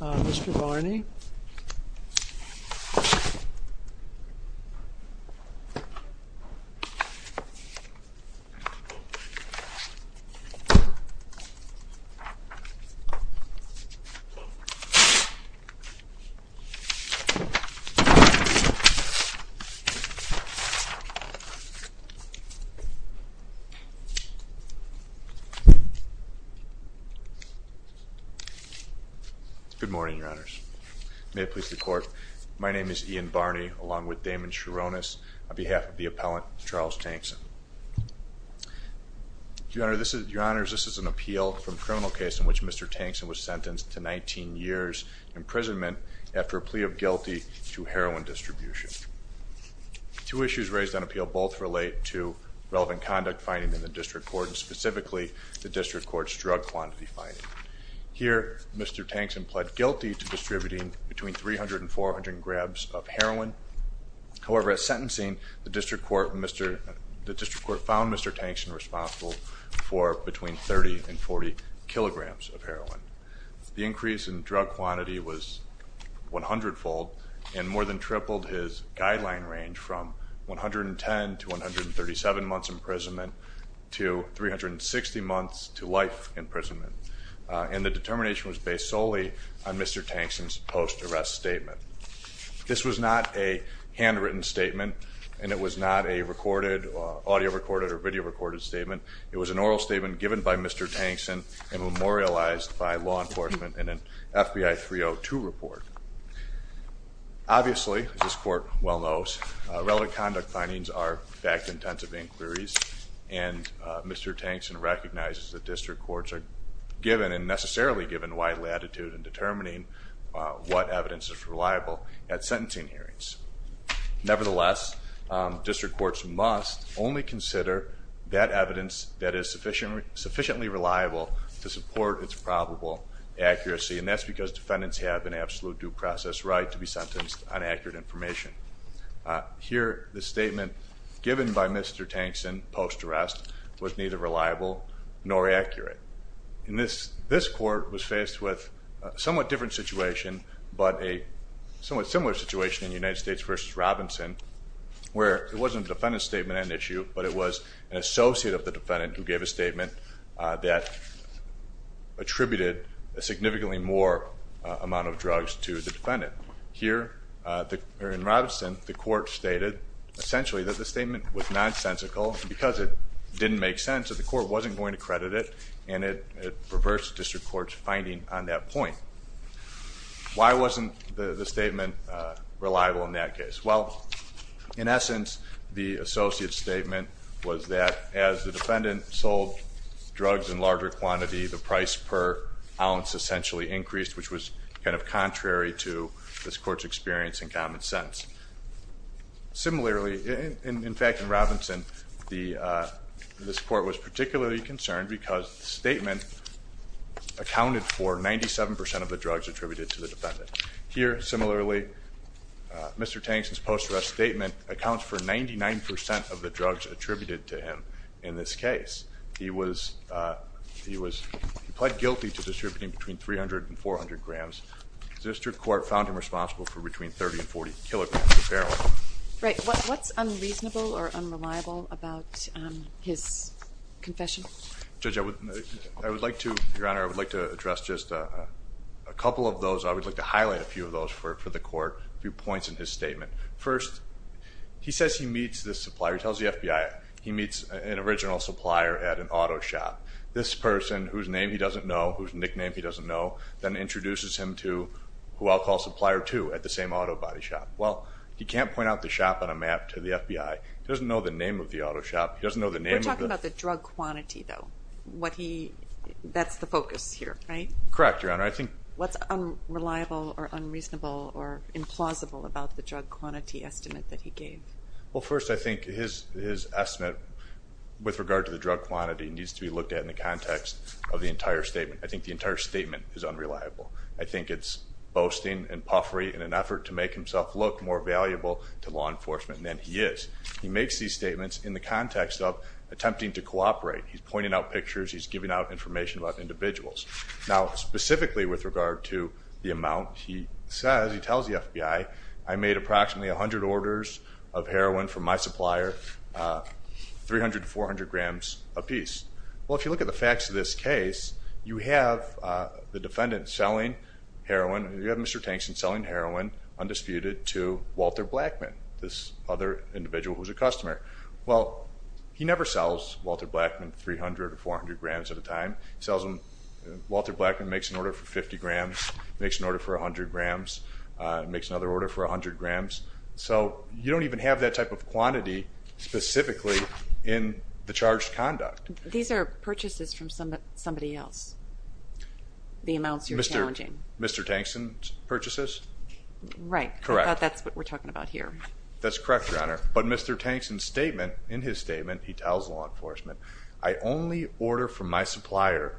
Mr. Barney Good morning, your honors. May it please the court. My name is Ian Barney, along with Damon Sharonis, on behalf of the appellant, Charles Tankson. Your honors, this is an appeal from criminal case in which Mr. Tankson was sentenced to 19 years imprisonment after a plea of guilty to heroin distribution. Two issues raised on appeal both relate to relevant conduct finding in the district court, and specifically the district court's drug quantity finding. Here, Mr. Tankson pled guilty to distributing between 300 and 400 grams of heroin. However, at sentencing, the district court found Mr. Tankson responsible for between 30 and 40 kilograms of heroin. The increase in drug quantity was 100-fold, and more than tripled his guideline range from 110 to 137 months imprisonment, to 360 months to life imprisonment. And the determination was based solely on Mr. Tankson's post-arrest statement. This was not a handwritten statement, and it was not a recorded, audio-recorded or video-recorded statement. It was an oral statement given by Mr. Tankson and memorialized by law enforcement in an FBI 302 report. Obviously, as this court well knows, relevant conduct findings are fact-intensive inquiries, and Mr. Tankson recognizes that district courts are given, and necessarily given, wide latitude in determining what evidence is reliable at sentencing hearings. Nevertheless, district courts must only consider that evidence that is sufficiently reliable to support its probable accuracy, and that's because defendants have an absolute due process right to be sentenced on accurate information. Here, the statement given by Mr. Tankson post-arrest was neither reliable nor accurate. This court was faced with a somewhat different situation, but a somewhat similar situation in United States v. Robinson, where it wasn't a defendant's statement on an issue, but it was an associate of the defendant who gave a statement that attributed a significantly more amount of drugs to the defendant. Here, in Robinson, the court stated, essentially, that the statement was nonsensical, and because it didn't make sense, that the court wasn't going to credit it, and it perverts district court's finding on that point. Why wasn't the statement reliable in that case? Well, in essence, the associate's statement was that as the defendant sold drugs in larger quantity, the price per ounce essentially increased, which was kind of contrary to this court's experience in common sense. Similarly, in fact, in Robinson, this court was particularly concerned because the statement accounted for 97% of the drugs attributed to the defendant. Here, similarly, Mr. Tankson's post-arrest statement accounts for 99% of the drugs attributed to him in this case. He pled guilty to distributing between 300 and 400 grams. District court found him responsible for between 30 and 40 kilograms of heroin. Right. What's unreasonable or unreliable about his confession? Judge, I would like to, Your Honor, I would like to address just a couple of those. I would like to highlight a few of those for the court, a few points in his statement. First, he says he meets this supplier. He tells the FBI he meets an original supplier at an auto shop. This person, whose name he doesn't know, whose nickname he doesn't know, then introduces him to who I'll call supplier two at the same auto body shop. Well, he can't point out the shop on a map to the FBI. He doesn't know the name of the auto shop. We're talking about the drug quantity, though. That's the focus here, right? Correct, Your Honor. What's unreliable or unreasonable or implausible about the drug quantity estimate that he gave? Well, first, I think his estimate with regard to the drug quantity needs to be looked at in the context of the entire statement. I think the entire statement is unreliable. I think it's boasting and puffery in an effort to make himself look more valuable to law enforcement than he is. He makes these statements in the context of attempting to cooperate. He's pointing out pictures. He's giving out information about individuals. Now, specifically with regard to the amount, he says, he tells the FBI, I made approximately 100 orders of heroin from my supplier, 300 to 400 grams apiece. Well, if you look at the facts of this case, you have the defendant selling heroin, you have Mr. Tankson selling heroin undisputed to Walter Blackman, this other individual who's a customer. Well, he never sells Walter Blackman 300 or 400 grams at a time. He sells them, Walter Blackman makes an order for 50 grams, makes an order for 100 grams, makes another order for 100 grams. So you don't even have that type of quantity specifically in the charged conduct. These are purchases from somebody else, the amounts you're challenging. Mr. Tankson's purchases? Right. Correct. I thought that's what we're talking about here. That's correct, Your Honor. But Mr. Tankson's statement, in his statement, he tells law enforcement, I only order from my supplier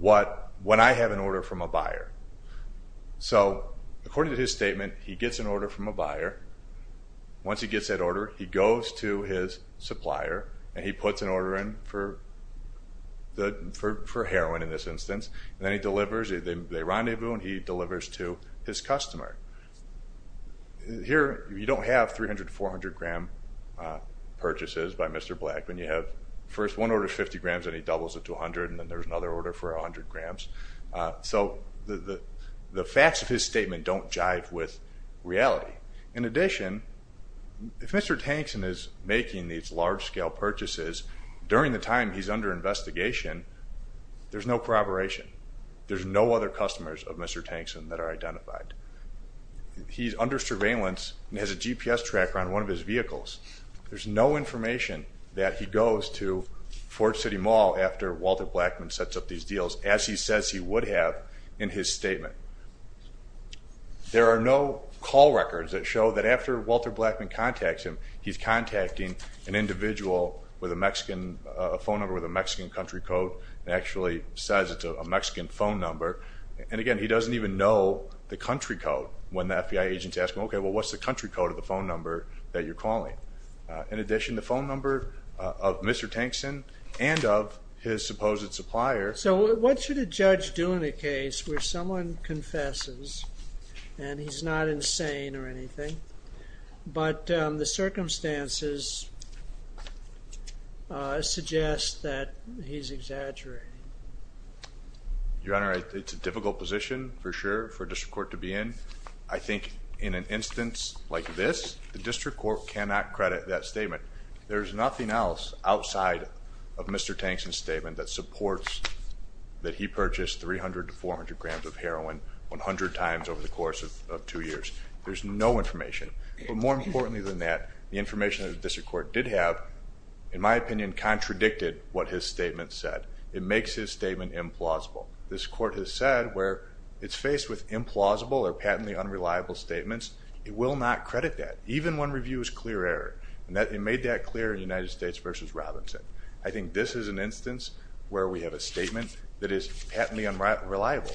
when I have an order from a buyer. So according to his statement, he gets an order from a buyer. Once he gets that order, he goes to his supplier and he puts an order in for heroin in this instance, and then he delivers, they rendezvous, and he delivers to his customer. Here, you don't have 300 to 400 gram purchases by Mr. Blackman. You have first one order of 50 grams, then he doubles it to 100, and then there's another order for 100 grams. So the facts of his statement don't jive with reality. In addition, if Mr. Tankson is making these large-scale purchases, during the time he's under investigation, there's no corroboration. There's no other customers of Mr. Tankson that are identified. He's under surveillance and has a GPS tracker on one of his vehicles. There's no information that he goes to Fort City Mall after Walter Blackman sets up these deals, as he says he would have in his statement. There are no call records that show that after Walter Blackman contacts him, he's contacting an individual with a Mexican phone number with a Mexican country code and actually says it's a Mexican phone number. And again, he doesn't even know the country code when the FBI agent's asking, okay, well, what's the country code of the phone number that you're calling? In addition, the phone number of Mr. Tankson and of his supposed supplier. So what should a judge do in a case where someone confesses and he's not insane or anything, but the circumstances suggest that he's exaggerating? Your Honor, it's a difficult position for sure for a district court to be in. I think in an instance like this, the district court cannot credit that statement. There's nothing else outside of Mr. Tankson's statement that supports that he purchased 300 to 400 grams of heroin 100 times over the course of two years. There's no information. But more importantly than that, the information that the district court did have, in my opinion, contradicted what his statement said. It makes his statement implausible. This court has said where it's faced with implausible or patently unreliable statements, it will not credit that, even when review is clear error. It made that clear in United States v. Robinson. I think this is an instance where we have a statement that is patently unreliable.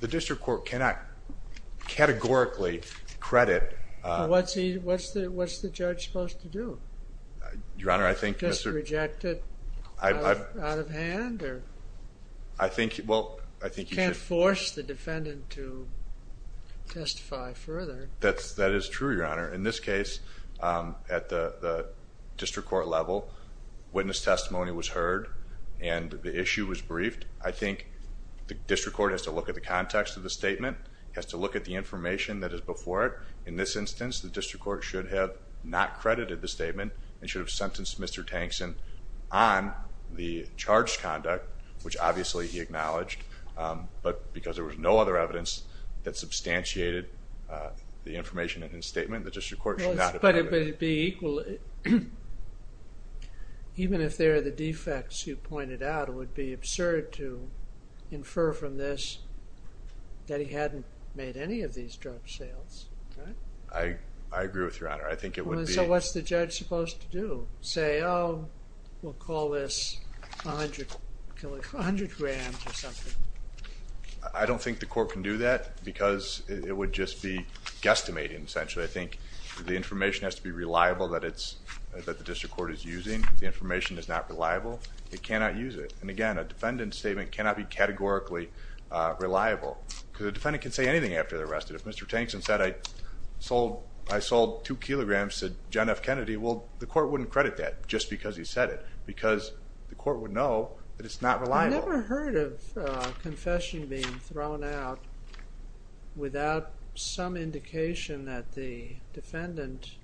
The district court cannot categorically credit... What's the judge supposed to do? Your Honor, I think Mr.... You can't force the defendant to testify further. That is true, Your Honor. In this case, at the district court level, witness testimony was heard and the issue was briefed. I think the district court has to look at the context of the statement, has to look at the information that is before it. In this instance, the district court should have not credited the statement and should have sentenced Mr. Tankson on the charged conduct, which obviously he acknowledged, but because there was no other evidence that substantiated the information in his statement, the district court should not have credited him. But it would be equally... Even if there are the defects you pointed out, it would be absurd to infer from this that he hadn't made any of these drug sales. I agree with you, Your Honor. I think it would be... So what's the judge supposed to do? Say, oh, we'll call this 100 grams or something. I don't think the court can do that because it would just be guesstimating, essentially. I think the information has to be reliable that the district court is using. If the information is not reliable, it cannot use it. And again, a defendant's statement cannot be categorically reliable because the defendant can say anything after they're arrested. If Mr. Tankson said, I sold 2 kilograms to John F. Kennedy, well, the court wouldn't credit that just because he said it because the court would know that it's not reliable. I've never heard of confession being thrown out without some indication that the defendant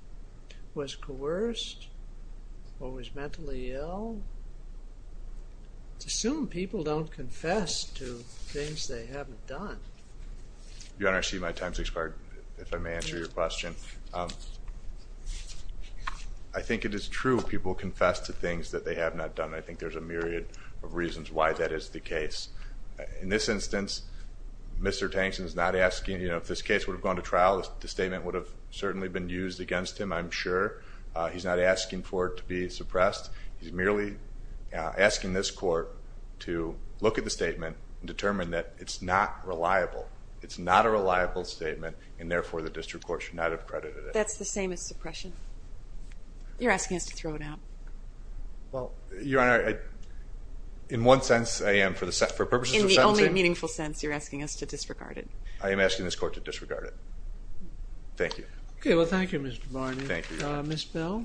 was coerced or was mentally ill. It's assumed people don't confess to things they haven't done. Your Honor, I see my time has expired, if I may answer your question. I think it is true people confess to things that they have not done. I think there's a myriad of reasons why that is the case. In this instance, Mr. Tankson is not asking, you know, if this case would have gone to trial, the statement would have certainly been used against him, I'm sure. He's not asking for it to be suppressed. He's merely asking this court to look at the statement and determine that it's not reliable. It's not a reliable statement, and therefore the district court should not have credited it. That's the same as suppression? You're asking us to throw it out? Well, Your Honor, in one sense, I am. For purposes of sentencing... In the only meaningful sense, you're asking us to disregard it. I am asking this court to disregard it. Thank you. Okay, well, thank you, Mr. Barney. Thank you. Ms. Bell?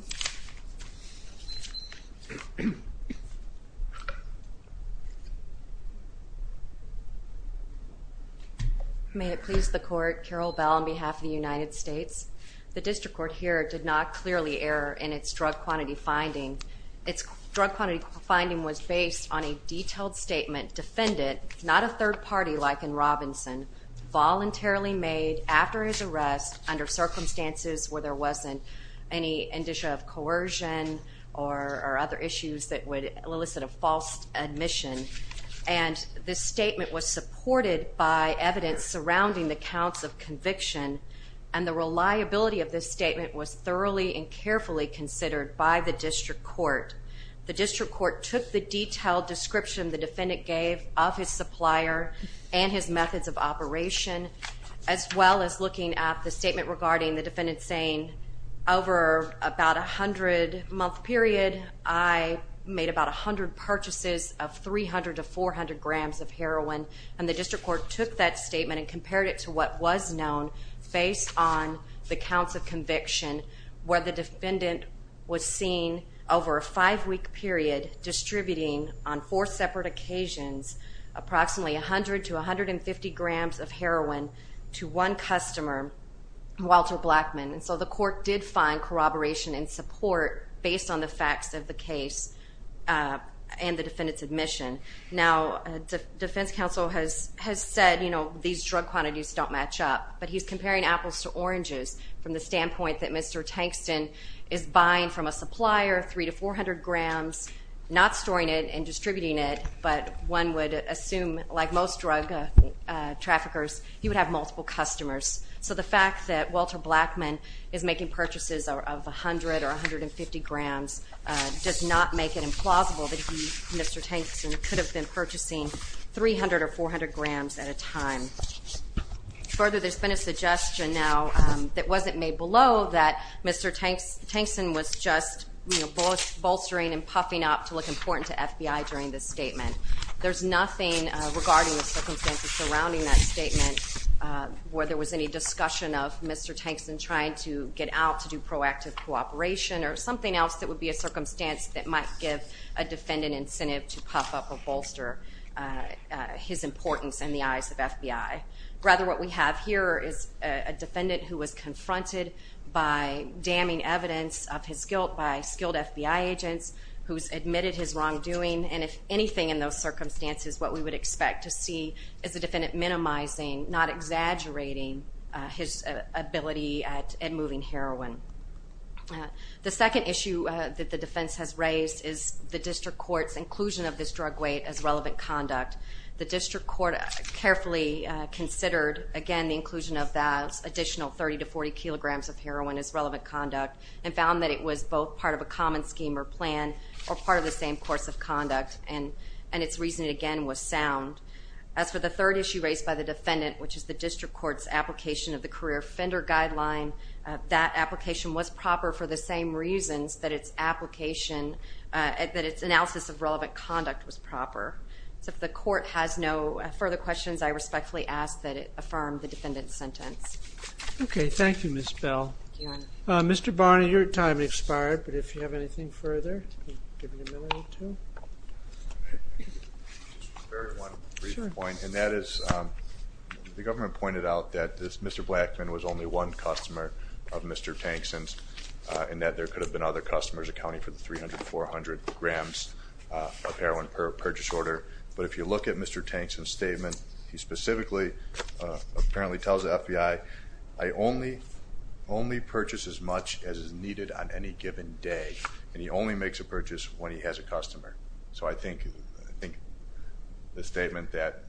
May it please the court, Carol Bell on behalf of the United States. The district court here did not clearly err in its drug quantity finding. Its drug quantity finding was based on a detailed statement defendant, not a third party like in Robinson, voluntarily made after his arrest under circumstances where there wasn't any indicia of coercion or other issues that would elicit a false admission. And this statement was supported by evidence surrounding the counts of conviction, and the reliability of this statement was thoroughly and carefully considered by the district court. The district court took the detailed description the defendant gave of his supplier and his methods of operation, as well as looking at the statement regarding the defendant saying, over about a hundred-month period, I made about a hundred purchases of 300 to 400 grams of heroin. And the district court took that statement and compared it to what was known based on the counts of conviction where the defendant was seen over a five-week period distributing on four separate occasions approximately 100 to 150 grams of heroin to one customer, Walter Blackman. And so the court did find corroboration and support based on the facts of the case and the defendant's admission. Now, defense counsel has said, you know, these drug quantities don't match up, but he's comparing apples to oranges from the standpoint that Mr. Tankston is buying from a supplier 300 to 400 grams, not storing it and distributing it, but one would assume, like most drug traffickers, he would have multiple customers. So the fact that Walter Blackman is making purchases of 100 or 150 grams does not make it implausible that he, Mr. Tankston, could have been purchasing 300 or 400 grams at a time. Further, there's been a suggestion now that wasn't made below that Mr. Tankston was just, you know, bolstering and puffing up to look important to FBI during this statement. There's nothing regarding the circumstances surrounding that statement where there was any discussion of Mr. Tankston trying to get out to do proactive cooperation or something else that would be a circumstance that might give a defendant incentive to puff up or bolster his importance in the eyes of FBI. Rather, what we have here is a defendant who was confronted by damning evidence of his guilt by skilled FBI agents who's admitted his wrongdoing, and if anything in those circumstances, what we would expect to see is the defendant minimizing, not exaggerating his ability at moving heroin. The second issue that the defense has raised is the district court's inclusion of this drug weight as relevant conduct. The district court carefully considered, again, the inclusion of that additional 30 to 40 kilograms of heroin as relevant conduct, and found that it was both part of a common scheme or plan or part of the same course of conduct, and its reasoning, again, was sound. As for the third issue raised by the defendant, which is the district court's application of the career offender guideline, that application was proper for the same reasons that its application, that its analysis of relevant conduct was proper. So if the court has no further questions, I respectfully ask that it affirm the defendant's sentence. Okay, thank you, Ms. Bell. Thank you, Your Honor. Mr. Barney, your time has expired, but if you have anything further, you can give an amenity to him. Just one brief point, and that is the government pointed out that Mr. Blackman was only one customer of Mr. Tankson's and that there could have been other customers accounting for the 300 to 400 grams of heroin per purchase order, but if you look at Mr. Tankson's statement, he specifically apparently tells the FBI, I only purchase as much as is needed on any given day, and he only makes a purchase when he has a customer. So I think the statement that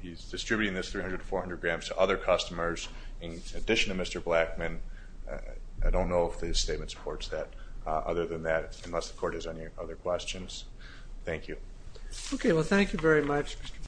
he's distributing this 300 to 400 grams to other customers in addition to Mr. Blackman, I don't know if the statement supports that. Other than that, unless the court has any other questions. Thank you. Okay, well, thank you very much, Mr. Barney.